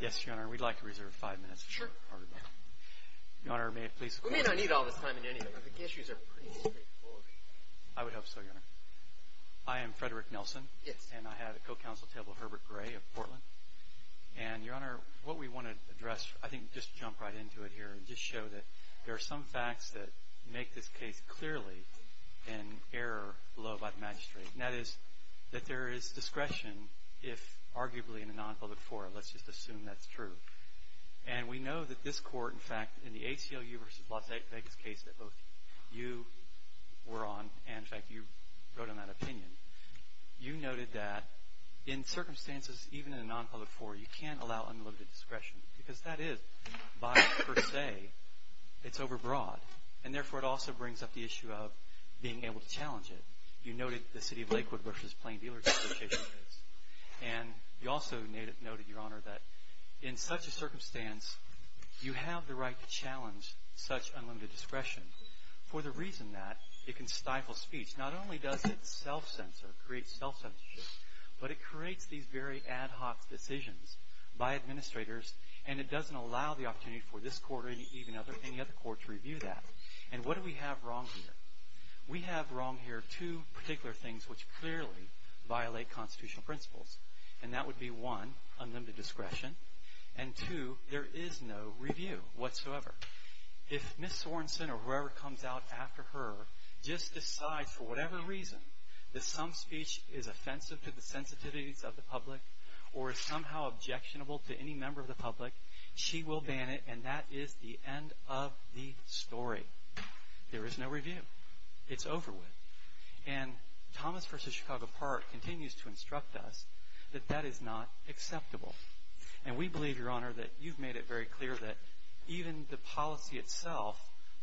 Yes, Your Honor, we'd like to reserve five minutes. Sure. Your Honor, may I please? We may not need all this time in any of them. The issues are pretty straightforward. I would hope so, Your Honor. I am Frederick Nelson. Yes. And I have a co-counsel table, Herbert Gray of Portland. And, Your Honor, what we want to address, I think, just jump right into it here and just show that there are some facts that make this case clearly an error below by the magistrate. And that is that there is discretion if, arguably, in a non-public forum. Let's just assume that's true. And we know that this court, in fact, in the ACLU v. Las Vegas case that both you were on, and, in fact, you wrote on that opinion, you noted that in circumstances even in a non-public forum, you can't allow unlimited discretion because that is, by per se, it's overbroad. And, therefore, it also brings up the issue of being able to challenge it. You noted the City of Lakewood v. Plain Dealers Association case. And you also noted, Your Honor, that in such a circumstance, you have the right to challenge such unlimited discretion for the reason that it can stifle speech. Not only does it self-censor, create self-censorship, but it creates these very ad hoc decisions by administrators, and it doesn't allow the opportunity for this court or any other court to review that. And what do we have wrong here? We have wrong here two particular things which clearly violate constitutional principles. And that would be, one, unlimited discretion. And, two, there is no review whatsoever. If Ms. Sorensen or whoever comes out after her just decides for whatever reason that some speech is offensive to the sensitivities of the public or is somehow objectionable to any member of the public, she will ban it, and that is the end of the story. But there is no review. It's over with. And Thomas v. Chicago Park continues to instruct us that that is not acceptable. And we believe, Your Honor, that you've made it very clear that even the policy itself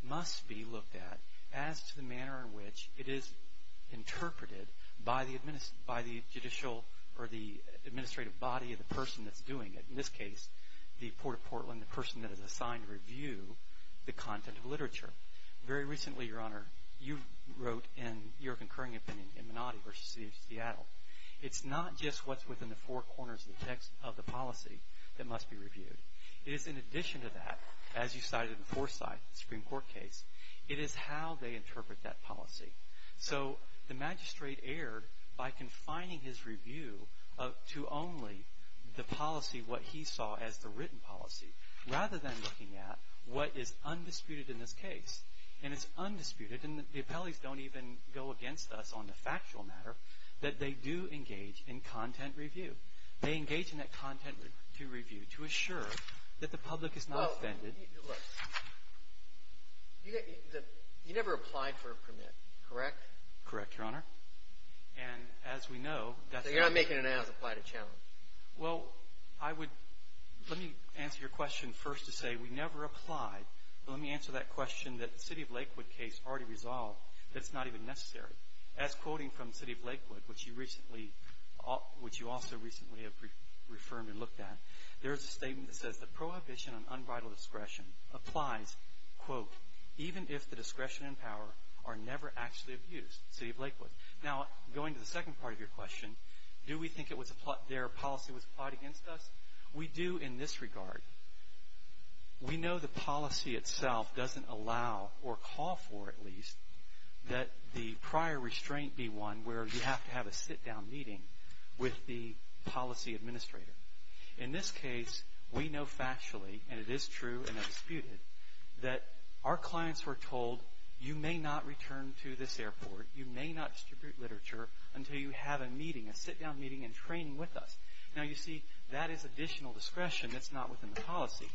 must be looked at as to the manner in which it is interpreted by the judicial or the administrative body of the person that's doing it. In this case, the Port of Portland, the person that is assigned to review the content of literature. Very recently, Your Honor, you wrote in your concurring opinion in Menotti v. City of Seattle, it's not just what's within the four corners of the text of the policy that must be reviewed. It is in addition to that, as you cited in Forsyth Supreme Court case, it is how they interpret that policy. So the magistrate erred by confining his review to only the policy, what he saw as the written policy, rather than looking at what is undisputed in this case. And it's undisputed, and the appellees don't even go against us on the factual matter, that they do engage in content review. They engage in that content review to assure that the public is not offended. Look, you never applied for a permit, correct? Correct, Your Honor. And as we know, that's not the case. So you're not making it as applied a challenge? Well, I would, let me answer your question first to say we never applied. But let me answer that question that the City of Lakewood case already resolved that it's not even necessary. As quoting from the City of Lakewood, which you recently, which you also recently have reaffirmed and looked at, there is a statement that says, the prohibition on unvital discretion applies, quote, even if the discretion and power are never actually abused, City of Lakewood. Now, going to the second part of your question, do we think their policy was applied against us? We do in this regard. We know the policy itself doesn't allow or call for, at least, that the prior restraint be one where you have to have a sit-down meeting with the policy administrator. In this case, we know factually, and it is true and undisputed, that our clients were told you may not return to this airport, you may not distribute literature until you have a meeting, a sit-down meeting and training with us. Now, you see, that is additional discretion that's not within the policy.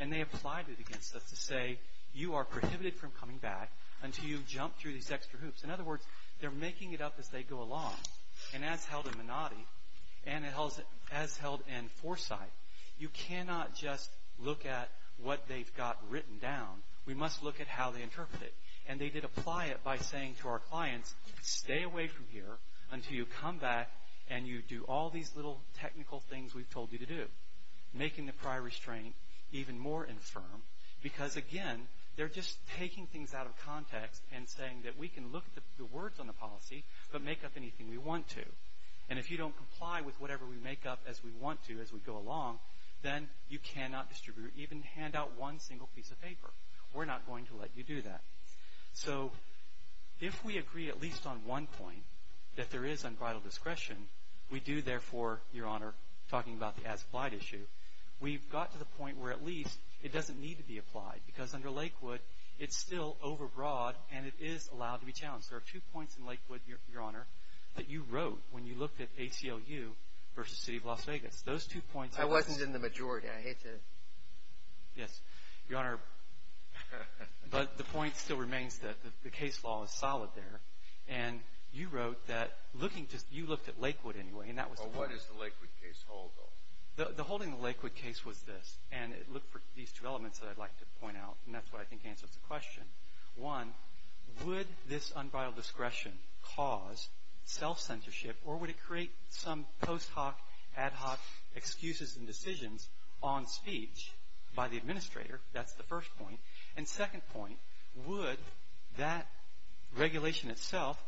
And they applied it against us to say you are prohibited from coming back until you jump through these extra hoops. In other words, they're making it up as they go along. And as held in Minotti and as held in Forsythe, you cannot just look at what they've got written down. We must look at how they interpret it. And they did apply it by saying to our clients, stay away from here until you come back and you do all these little technical things we've told you to do, making the prior restraint even more infirm because, again, they're just taking things out of context and saying that we can look at the words on the policy but make up anything we want to. And if you don't comply with whatever we make up as we want to as we go along, then you cannot distribute or even hand out one single piece of paper. We're not going to let you do that. So if we agree at least on one point that there is unbridled discretion, we do therefore, Your Honor, talking about the as-applied issue, we've got to the point where at least it doesn't need to be applied because under Lakewood it's still overbroad and it is allowed to be challenged. There are two points in Lakewood, Your Honor, that you wrote when you looked at ACLU versus City of Las Vegas. Those two points are— I wasn't in the majority. I hate to— Yes. Your Honor, but the point still remains that the case law is solid there. And you wrote that looking to—you looked at Lakewood anyway, and that was— Well, what does the Lakewood case hold, though? The holding of the Lakewood case was this, and it looked for these two elements that I'd like to point out, and that's what I think answers the question. One, would this unbridled discretion cause self-censorship or would it create some post hoc, ad hoc excuses and decisions on speech by the administrator? That's the first point. And second point, would that regulation itself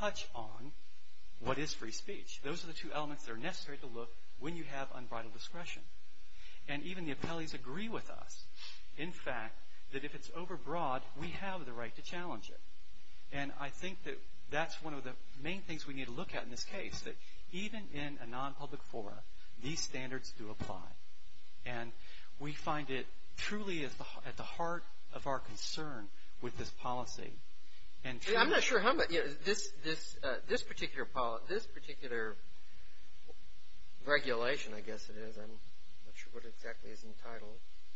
touch on what is free speech? Those are the two elements that are necessary to look when you have unbridled discretion. And even the appellees agree with us. In fact, that if it's over broad, we have the right to challenge it. And I think that that's one of the main things we need to look at in this case, that even in a nonpublic forum, these standards do apply. And we find it truly at the heart of our concern with this policy. I'm not sure how much—this particular regulation, I guess it is. I'm not sure what exactly it's entitled.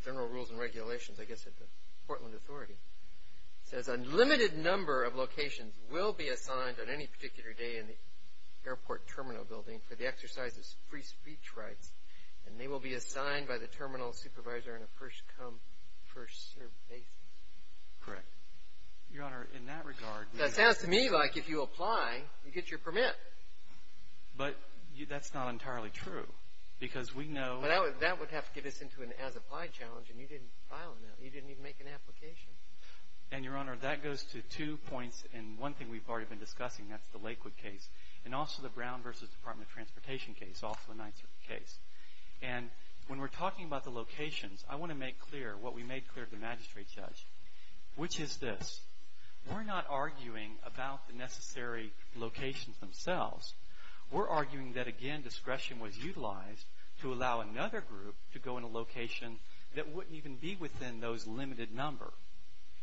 General Rules and Regulations, I guess at the Portland Authority. It says a limited number of locations will be assigned on any particular day in the airport terminal building for the exercise of free speech rights, and they will be assigned by the terminal supervisor in a first come, first served basis. Correct. Your Honor, in that regard— That sounds to me like if you apply, you get your permit. But that's not entirely true because we know— But that would have to get us into an as-applied challenge, and you didn't file it. You didn't even make an application. And, Your Honor, that goes to two points, and one thing we've already been discussing. That's the Lakewood case, and also the Brown v. Department of Transportation case, also a Ninth Circuit case. And when we're talking about the locations, I want to make clear what we made clear to the magistrate judge, which is this. We're not arguing about the necessary locations themselves. We're arguing that, again, discretion was utilized to allow another group to go in a location that wouldn't even be within those limited number.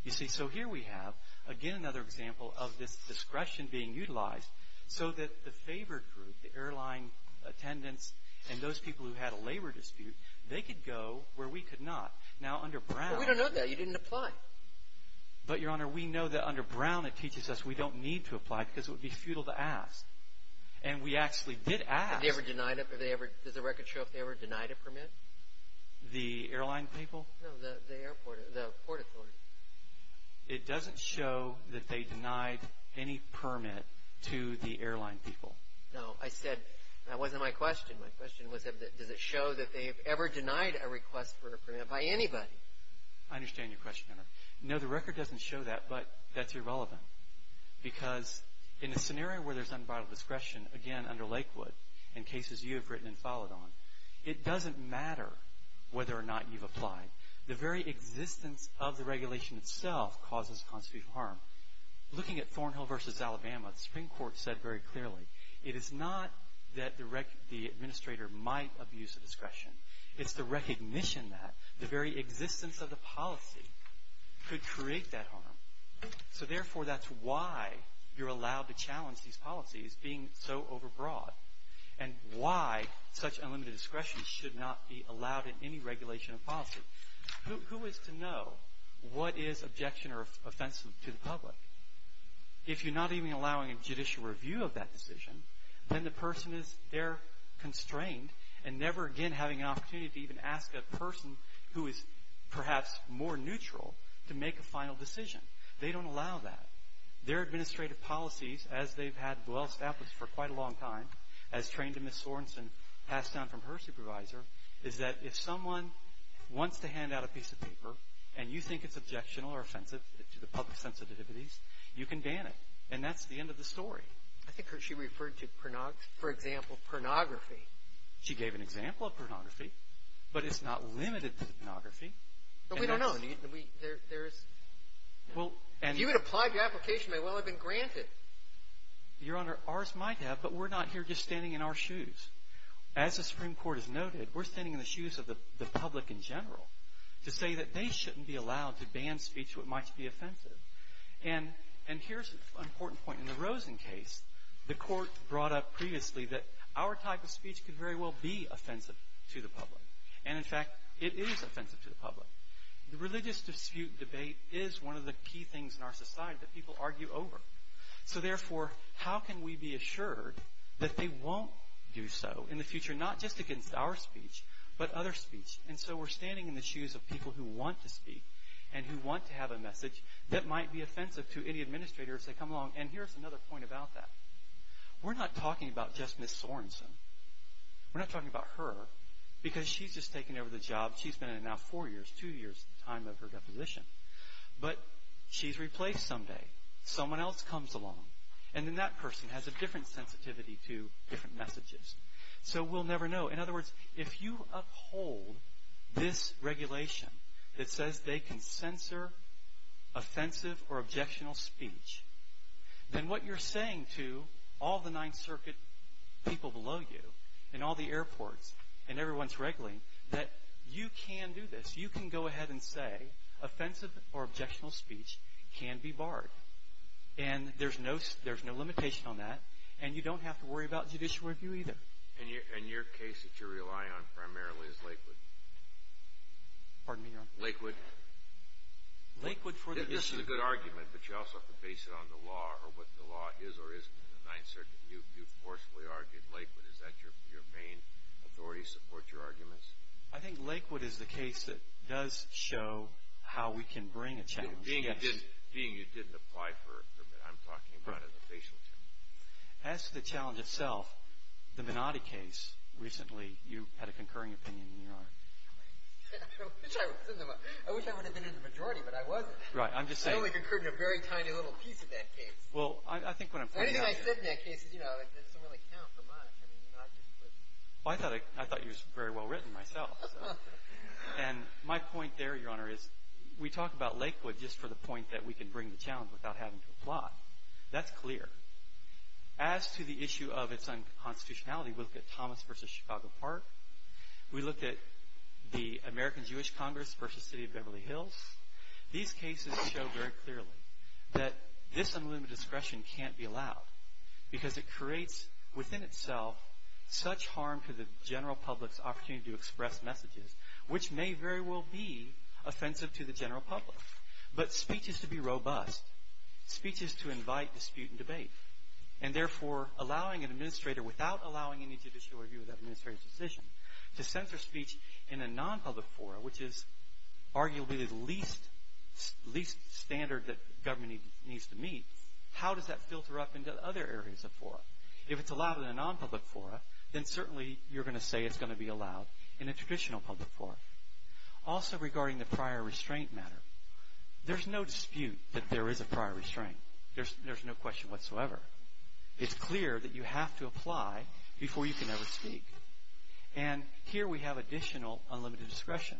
You see, so here we have, again, another example of this discretion being utilized so that the favored group, the airline attendants and those people who had a labor dispute, they could go where we could not. Now, under Brown— But we don't know that. You didn't apply. But, Your Honor, we know that under Brown it teaches us we don't need to apply because it would be futile to ask. And we actually did ask. Have they ever denied it? Does the record show if they ever denied a permit? The airline people? No, the airport—the port authority. It doesn't show that they denied any permit to the airline people. No, I said—that wasn't my question. My question was, does it show that they have ever denied a request for a permit by anybody? I understand your question, Your Honor. No, the record doesn't show that, but that's irrelevant because in a scenario where there's unbiased discretion, again, under Lakewood, in cases you have written and followed on, it doesn't matter whether or not you've applied. The very existence of the regulation itself causes constitutional harm. Looking at Thornhill v. Alabama, the Supreme Court said very clearly, it is not that the administrator might abuse the discretion. It's the recognition that the very existence of the policy could create that harm. So, therefore, that's why you're allowed to challenge these policies being so overbroad and why such unlimited discretion should not be allowed in any regulation of policy. Who is to know what is objection or offensive to the public? If you're not even allowing a judicial review of that decision, then the person is there constrained and never again having an opportunity to even ask a person who is perhaps more neutral to make a final decision. They don't allow that. Their administrative policies, as they've had well established for quite a long time, as trained to Ms. Sorensen passed down from her supervisor, is that if someone wants to hand out a piece of paper and you think it's objectionable or offensive to the public's sensitivities, you can ban it. And that's the end of the story. I think she referred to, for example, pornography. She gave an example of pornography, but it's not limited to pornography. But we don't know. There's – if you had applied for your application, it may well have been granted. Your Honor, ours might have, but we're not here just standing in our shoes. As the Supreme Court has noted, we're standing in the shoes of the public in general to say that they shouldn't be allowed to ban speech that might be offensive. And here's an important point. In the Rosen case, the court brought up previously that our type of speech could very well be offensive to the public. And, in fact, it is offensive to the public. The religious dispute debate is one of the key things in our society that people argue over. So, therefore, how can we be assured that they won't do so in the future, not just against our speech, but other speech? And so we're standing in the shoes of people who want to speak and who want to have a message that might be offensive to any administrator if they come along. And here's another point about that. We're not talking about just Ms. Sorenson. We're not talking about her because she's just taken over the job. She's been in it now four years, two years at the time of her deposition. But she's replaced someday. Someone else comes along. And then that person has a different sensitivity to different messages. So we'll never know. In other words, if you uphold this regulation that says they can censor offensive or objectionable speech, then what you're saying to all the Ninth Circuit people below you and all the airports and everyone's regulating that you can do this. You can go ahead and say offensive or objectionable speech can be barred. And there's no limitation on that. And you don't have to worry about judicial review either. And your case that you rely on primarily is Lakewood. Pardon me, Your Honor? Lakewood. Lakewood for the issue. This is a good argument, but you also have to base it on the law or what the law is or isn't in the Ninth Circuit. You forcefully argued Lakewood. Is that your main authority to support your arguments? I think Lakewood is the case that does show how we can bring a challenge. Being you didn't apply for a permit, I'm talking about as a facial term. As to the challenge itself, the Minotti case recently, you had a concurring opinion, Your Honor. I wish I would have been in the majority, but I wasn't. Right, I'm just saying. I only concurred in a very tiny little piece of that case. Well, I think what I'm pointing out is. Anything I said in that case doesn't really count for much. I thought you were very well written myself. And my point there, Your Honor, is we talk about Lakewood just for the point that we can bring the challenge without having to apply. That's clear. As to the issue of its unconstitutionality, we look at Thomas v. Chicago Park. We look at the American Jewish Congress v. City of Beverly Hills. These cases show very clearly that this unlimited discretion can't be allowed because it creates within itself such harm to the general public's opportunity to express messages, which may very well be offensive to the general public. But speech is to be robust. Speech is to invite dispute and debate. And therefore, allowing an administrator, without allowing any judicial review of that administrator's decision, to censor speech in a non-public forum, which is arguably the least standard that government needs to meet, how does that filter up into other areas of forum? If it's allowed in a non-public forum, then certainly you're going to say it's going to be allowed in a traditional public forum. Also, regarding the prior restraint matter, there's no dispute that there is a prior restraint. There's no question whatsoever. It's clear that you have to apply before you can ever speak. And here we have additional unlimited discretion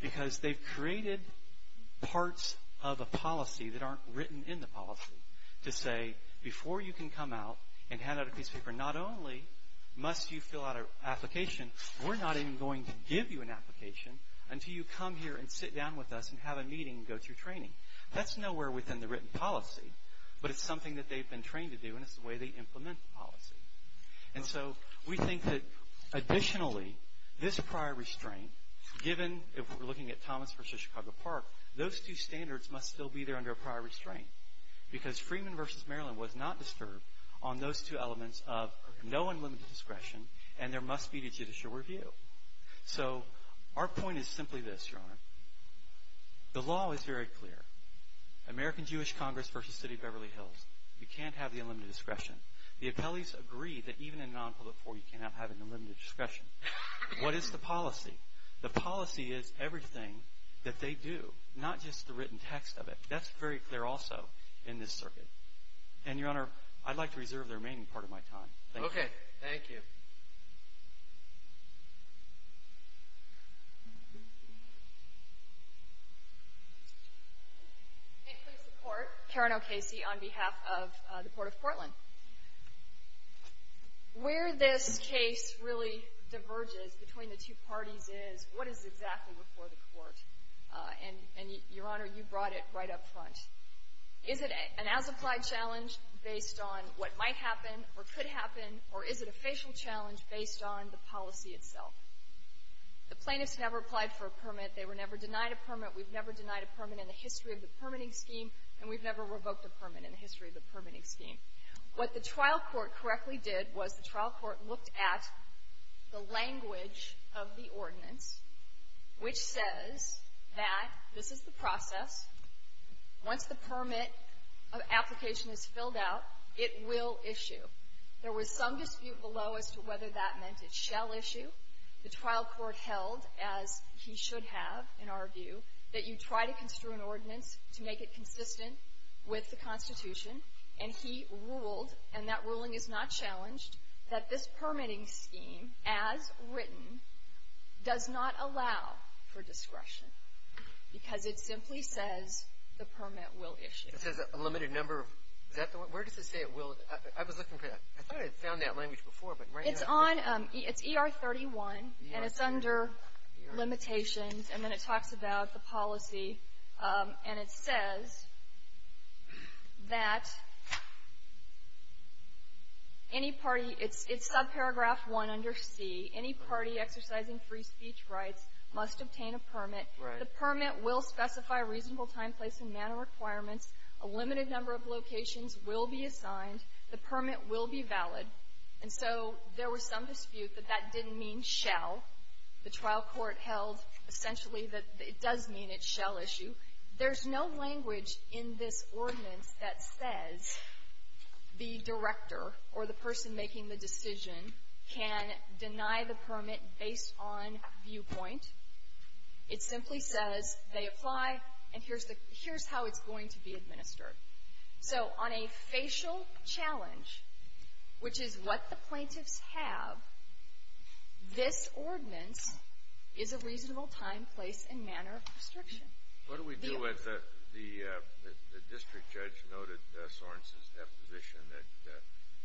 because they've created parts of a policy that aren't written in the policy to say before you can come out and hand out a piece of paper, not only must you fill out an application, we're not even going to give you an application until you come here and sit down with us and have a meeting and go through training. That's nowhere within the written policy, but it's something that they've been trained to do, and it's the way they implement the policy. And so we think that additionally, this prior restraint, given if we're looking at Thomas versus Chicago Park, those two standards must still be there under a prior restraint because Freeman versus Maryland was not disturbed on those two elements of no unlimited discretion, and there must be a judicial review. So our point is simply this, Your Honor. The law is very clear. American Jewish Congress versus City of Beverly Hills, you can't have the unlimited discretion. The appellees agree that even in a non-public forum, you cannot have unlimited discretion. What is the policy? The policy is everything that they do, not just the written text of it. That's very clear also in this circuit. And, Your Honor, I'd like to reserve the remaining part of my time. Thank you. Okay. Thank you. Can I please support Karen O'Casey on behalf of the Court of Portland? Where this case really diverges between the two parties is, what is exactly before the Court? And, Your Honor, you brought it right up front. Is it an as-applied challenge based on what might happen or could happen, or is it a facial challenge based on the policy itself? The plaintiffs never applied for a permit. They were never denied a permit. We've never denied a permit in the history of the permitting scheme, and we've never revoked a permit in the history of the permitting scheme. What the trial court correctly did was the trial court looked at the language of the ordinance, which says that this is the process. Once the permit application is filled out, it will issue. There was some dispute below as to whether that meant it shall issue. The trial court held, as he should have, in our view, that you try to construe an ordinance to make it consistent with the Constitution, and he ruled, and that ruling is not challenged, that this permitting scheme, as written, does not allow for discretion because it simply says the permit will issue. It says a limited number of, is that the one? Where does it say it will? I was looking for that. I thought I had found that language before. It's ER 31, and it's under limitations, and then it talks about the policy, and it says that any party, it's subparagraph 1 under C, any party exercising free speech rights must obtain a permit. The permit will specify a reasonable time, place, and manner requirements. A limited number of locations will be assigned. The permit will be valid. And so there was some dispute that that didn't mean shall. The trial court held, essentially, that it does mean it shall issue. There's no language in this ordinance that says the director or the person making the decision can deny the permit based on viewpoint. It simply says they apply, and here's how it's going to be administered. So on a facial challenge, which is what the plaintiffs have, this ordinance is a reasonable time, place, and manner of restriction. What do we do with the district judge noted Sorensen's deposition that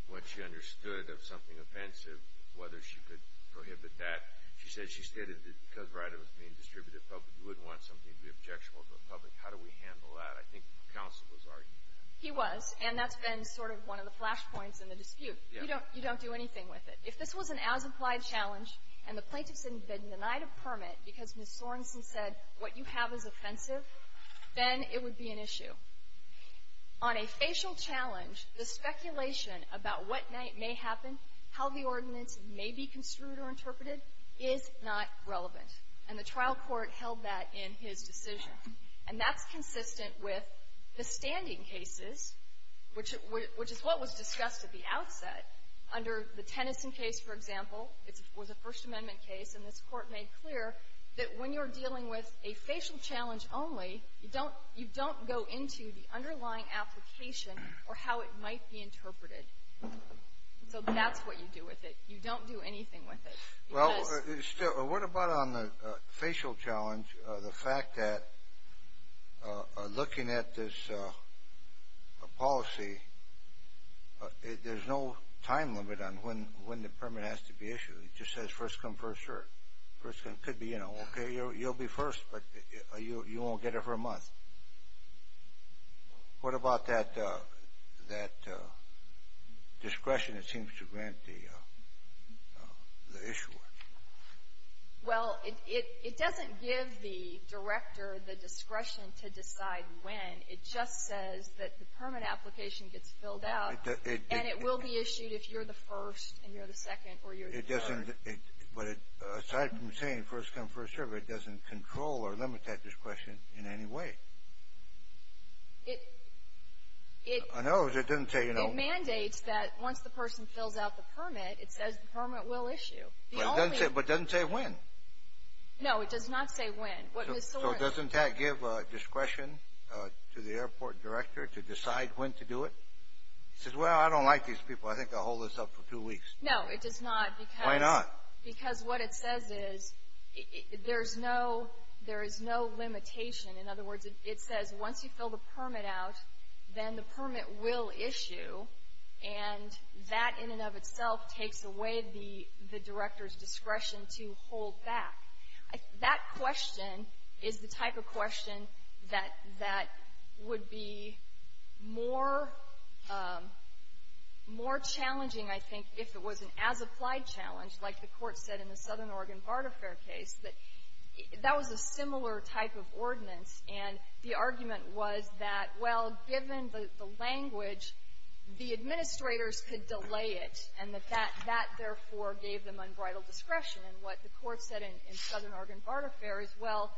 when she understood of something offensive, whether she could prohibit that, she said she stated that because the right was being distributed publicly, you wouldn't want something to be objectionable to the public. How do we handle that? I think counsel was arguing that. He was, and that's been sort of one of the flash points in the dispute. You don't do anything with it. If this was an as-implied challenge and the plaintiffs had been denied a permit because Ms. Sorensen said what you have is offensive, then it would be an issue. On a facial challenge, the speculation about what may happen, how the ordinance may be construed or interpreted, is not relevant. And the trial court held that in his decision. And that's consistent with the standing cases, which is what was discussed at the outset under the Tennyson case, for example. It was a First Amendment case, and this Court made clear that when you're dealing with a facial challenge only, you don't go into the underlying application or how it might be interpreted. So that's what you do with it. You don't do anything with it. Well, what about on the facial challenge, the fact that looking at this policy, there's no time limit on when the permit has to be issued. It just says first come, first served. It could be, you know, okay, you'll be first, but you won't get it for a month. What about that discretion that seems to grant the issuer? Well, it doesn't give the director the discretion to decide when. It just says that the permit application gets filled out, and it will be issued if you're the first and you're the second or you're the third. But aside from saying first come, first served, it doesn't control or limit that discretion in any way. It mandates that once the person fills out the permit, it says the permit will issue. But it doesn't say when. No, it does not say when. So it doesn't give discretion to the airport director to decide when to do it? It says, well, I don't like these people. I think I'll hold this up for two weeks. No, it does not. Why not? Because what it says is there is no limitation. In other words, it says once you fill the permit out, then the permit will issue, and that in and of itself takes away the director's discretion to hold back. That question is the type of question that would be more challenging, I think, if it was an as-applied challenge, like the Court said in the Southern Oregon Barter Fair case, that that was a similar type of ordinance. And the argument was that, well, given the language, the administrators could delay it, and that that, therefore, gave them unbridled discretion. And what the Court said in Southern Oregon Barter Fair is, well,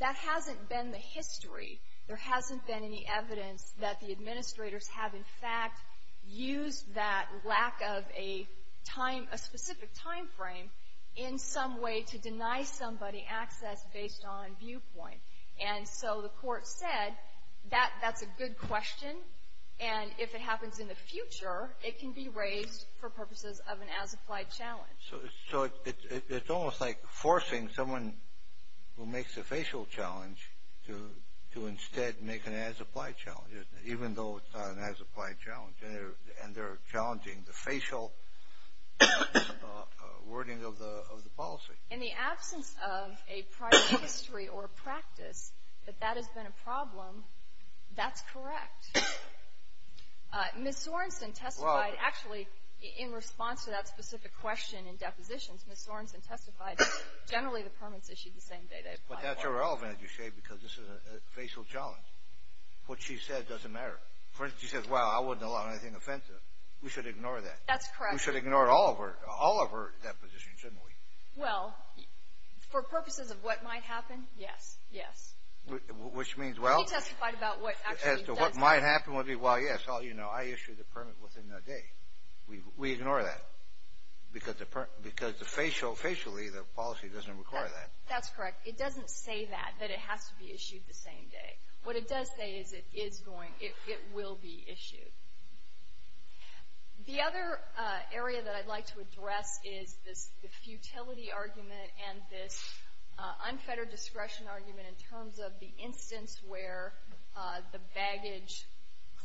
that hasn't been the history. There hasn't been any evidence that the administrators have, in fact, used that lack of a time — a specific timeframe in some way to deny somebody access based on viewpoint. And so the Court said that that's a good question, and if it happens in the future, it can be raised for purposes of an as-applied challenge. So it's almost like forcing someone who makes a facial challenge to instead make an as-applied challenge, even though it's not an as-applied challenge, and they're challenging the facial wording of the policy. In the absence of a prior history or practice that that has been a problem, that's correct. Ms. Sorensen testified, actually, in response to that specific question in depositions, Ms. Sorensen testified generally the permits issued the same day they applied for. But that's irrelevant, as you say, because this is a facial challenge. What she said doesn't matter. For instance, she says, well, I wouldn't allow anything offensive. We should ignore that. That's correct. We should ignore all of her depositions, shouldn't we? Well, for purposes of what might happen, yes, yes. Which means, well — She testified about what actually does happen. As to what might happen would be, well, yes, well, you know, I issued the permit within that day. We ignore that because the facial, facially, the policy doesn't require that. That's correct. It doesn't say that, that it has to be issued the same day. What it does say is it is going, it will be issued. The other area that I'd like to address is the futility argument and this unfettered discretion argument in terms of the instance where the baggage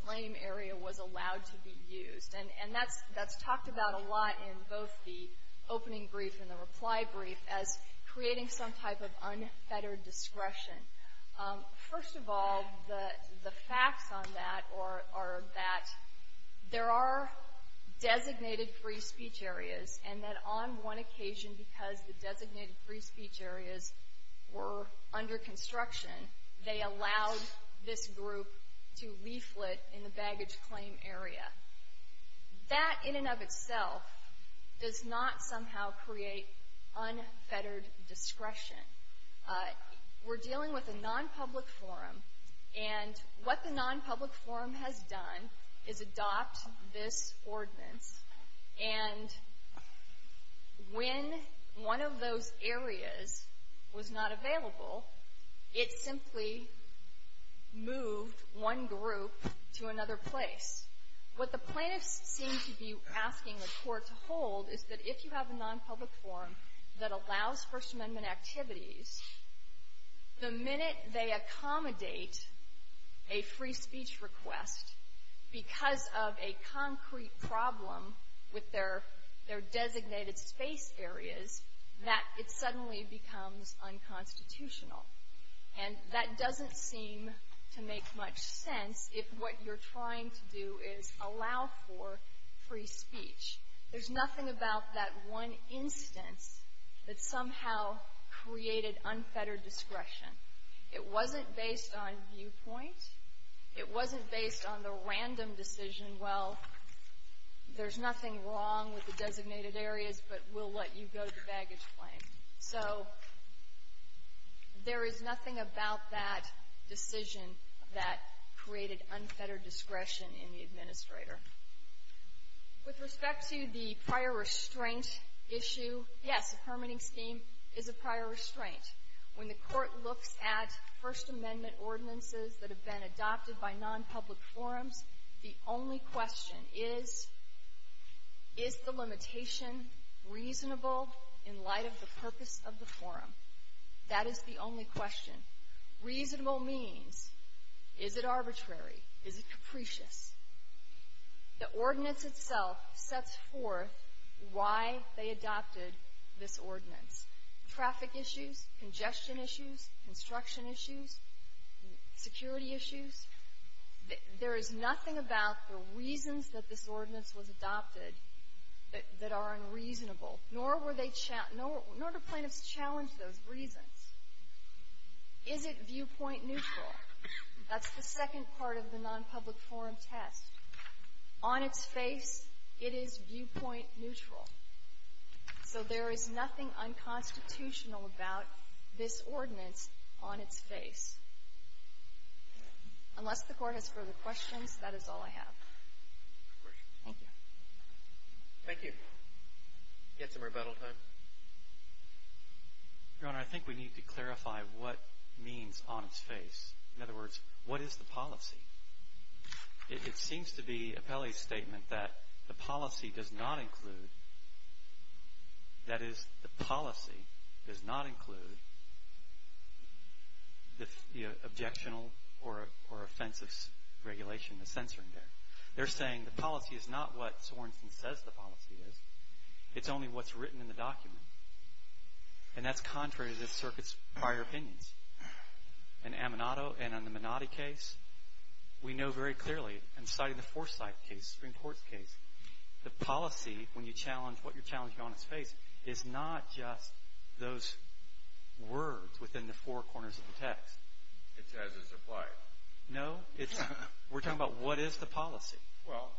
claim area was allowed to be used. And that's talked about a lot in both the opening brief and the reply brief as creating some type of unfettered discretion. First of all, the facts on that are that there are designated free speech areas, and that on one occasion, because the designated free speech areas were under construction, they allowed this group to leaflet in the baggage claim area. That, in and of itself, does not somehow create unfettered discretion. We're dealing with a nonpublic forum, and what the nonpublic forum has done is adopt this ordinance, and when one of those areas was not available, it simply moved one group to another place. What the plaintiffs seem to be asking the Court to hold is that if you have a nonpublic forum that allows First Amendment activities, the minute they accommodate a free speech request because of a concrete problem with their designated space areas, that it suddenly becomes unconstitutional. And that doesn't seem to make much sense if what you're trying to do is allow for free speech. There's nothing about that one instance that somehow created unfettered discretion. It wasn't based on viewpoint. It wasn't based on the random decision, well, there's nothing wrong with the designated areas, but we'll let you go to the baggage claim. So there is nothing about that decision that created unfettered discretion in the administrator. With respect to the prior restraint issue, yes, the permitting scheme is a prior restraint. When the Court looks at First Amendment ordinances that have been adopted by nonpublic forums, the only question is, is the limitation reasonable in light of the purpose of the forum? That is the only question. Reasonable means is it arbitrary? Is it capricious? The ordinance itself sets forth why they adopted this ordinance. Traffic issues, congestion issues, construction issues, security issues, there is nothing about the reasons that this ordinance was adopted that are unreasonable, nor do plaintiffs challenge those reasons. Is it viewpoint neutral? That's the second part of the nonpublic forum test. On its face, it is viewpoint neutral. So there is nothing unconstitutional about this ordinance on its face. Unless the Court has further questions, that is all I have. Thank you. Thank you. We have some rebuttal time. Your Honor, I think we need to clarify what means on its face. In other words, what is the policy? It seems to be Appellee's statement that the policy does not include, that is, the policy does not include the objectionable or offensive regulation, the censoring there. They're saying the policy is not what Sorenson says the policy is. It's only what's written in the document. And that's contrary to this Circuit's prior opinions. In Aminato and in the Minotti case, we know very clearly, and citing the Forsyth case, the Supreme Court's case, the policy, when you challenge what you're challenging on its face, is not just those words within the four corners of the text. It says it's applied. No, we're talking about what is the policy. Well,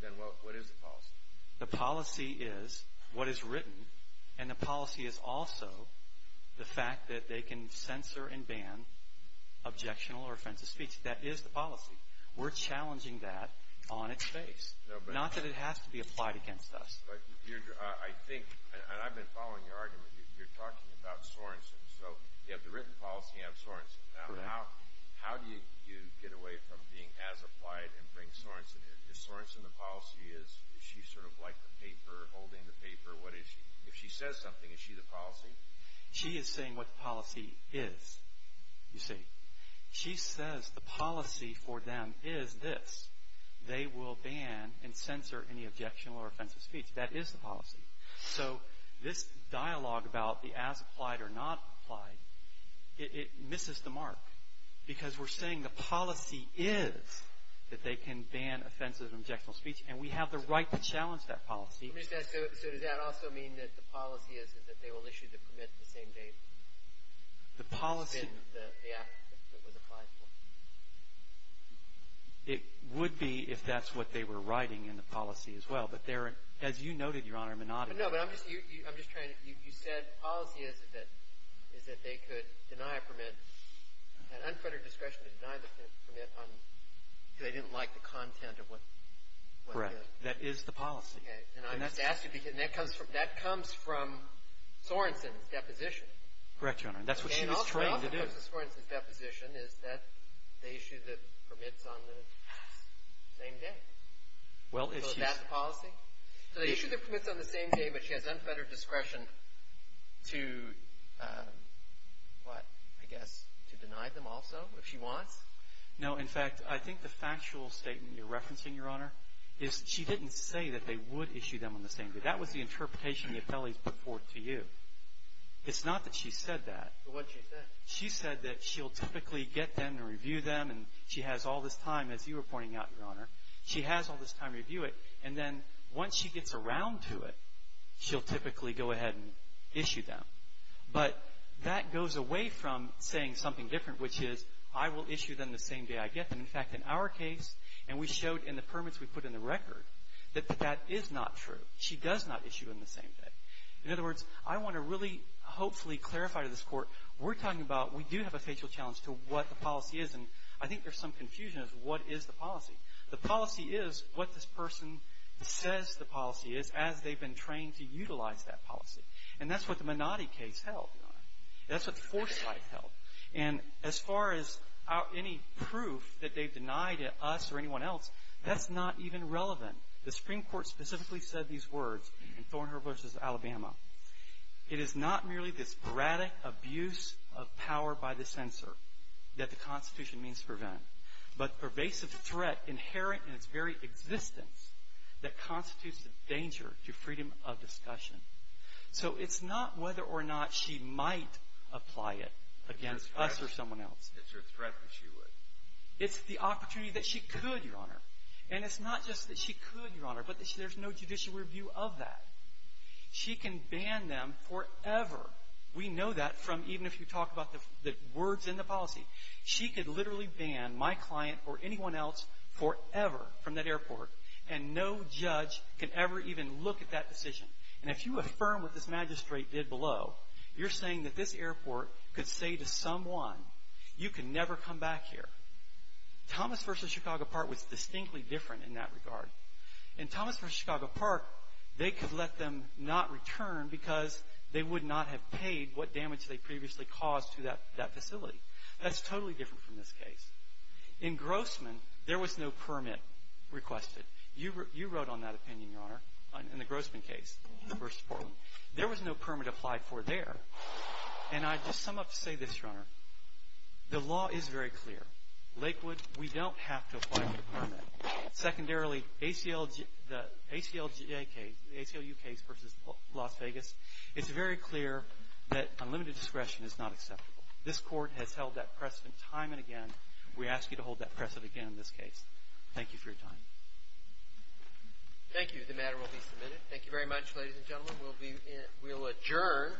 then what is the policy? The policy is what is written, and the policy is also the fact that they can censor and ban objectionable or offensive speech. That is the policy. We're challenging that on its face, not that it has to be applied against us. But I think, and I've been following your argument, you're talking about Sorenson. So you have the written policy, you have Sorenson. How do you get away from being as applied and bring Sorenson in? Is Sorenson the policy? Is she sort of like the paper, holding the paper? If she says something, is she the policy? She is saying what the policy is, you see. She says the policy for them is this. They will ban and censor any objectionable or offensive speech. That is the policy. So this dialogue about the as applied or not applied, it misses the mark because we're saying the policy is that they can ban offensive and objectionable speech, and we have the right to challenge that policy. Let me just ask, so does that also mean that the policy is that they will issue the permit the same day? The policy. It's been the act that was applied for. It would be if that's what they were writing in the policy as well. But there are, as you noted, Your Honor, monotony. No, but I'm just trying to, you said the policy is that they could deny a permit, had unfettered discretion to deny the permit until they didn't like the content of what they did. Correct. That is the policy. Okay. And I'm just asking because that comes from Sorensen's deposition. Correct, Your Honor. And that's what she was trained to do. Okay. And also because of Sorensen's deposition is that they issue the permits on the same day. So is that the policy? So they issue the permits on the same day, but she has unfettered discretion to, what, I guess to deny them also if she wants? No. In fact, I think the factual statement you're referencing, Your Honor, is she didn't say that they would issue them on the same day. That was the interpretation the appellees put forth to you. It's not that she said that. What did she say? She said that she'll typically get them and review them, and she has all this time, as you were pointing out, Your Honor, she has all this time to review it, and then once she gets around to it, she'll typically go ahead and issue them. But that goes away from saying something different, which is I will issue them the same day I get them. In fact, in our case, and we showed in the permits we put in the record, that that is not true. She does not issue them the same day. In other words, I want to really hopefully clarify to this Court, we're talking about we do have a factual challenge to what the policy is, and I think there's some confusion as to what is the policy. The policy is what this person says the policy is as they've been trained to utilize that policy. And that's what the Minotti case held. That's what the Forsyth case held. And as far as any proof that they've denied us or anyone else, that's not even relevant. The Supreme Court specifically said these words in Thornhurst v. Alabama, it is not merely this sporadic abuse of power by the censor that the Constitution means to prevent, but pervasive threat inherent in its very existence that constitutes a danger to freedom of discussion. So it's not whether or not she might apply it against us or someone else. It's her threat that she would. It's the opportunity that she could, Your Honor. And it's not just that she could, Your Honor, but there's no judicial review of that. She can ban them forever. We know that from even if you talk about the words in the policy. She could literally ban my client or anyone else forever from that airport, and no judge could ever even look at that decision. And if you affirm what this magistrate did below, you're saying that this airport could say to someone, you can never come back here. Thomas v. Chicago Park was distinctly different in that regard. In Thomas v. Chicago Park, they could let them not return because they would not have paid what damage they previously caused to that facility. That's totally different from this case. In Grossman, there was no permit requested. You wrote on that opinion, Your Honor, in the Grossman case, the first report. There was no permit applied for there. And I just sum up to say this, Your Honor. The law is very clear. Lakewood, we don't have to apply for a permit. Secondarily, the ACLU case versus Las Vegas, it's very clear that unlimited discretion is not acceptable. This court has held that precedent time and again. We ask you to hold that precedent again in this case. Thank you for your time. Thank you. The matter will be submitted. Thank you very much, ladies and gentlemen. We'll adjourn.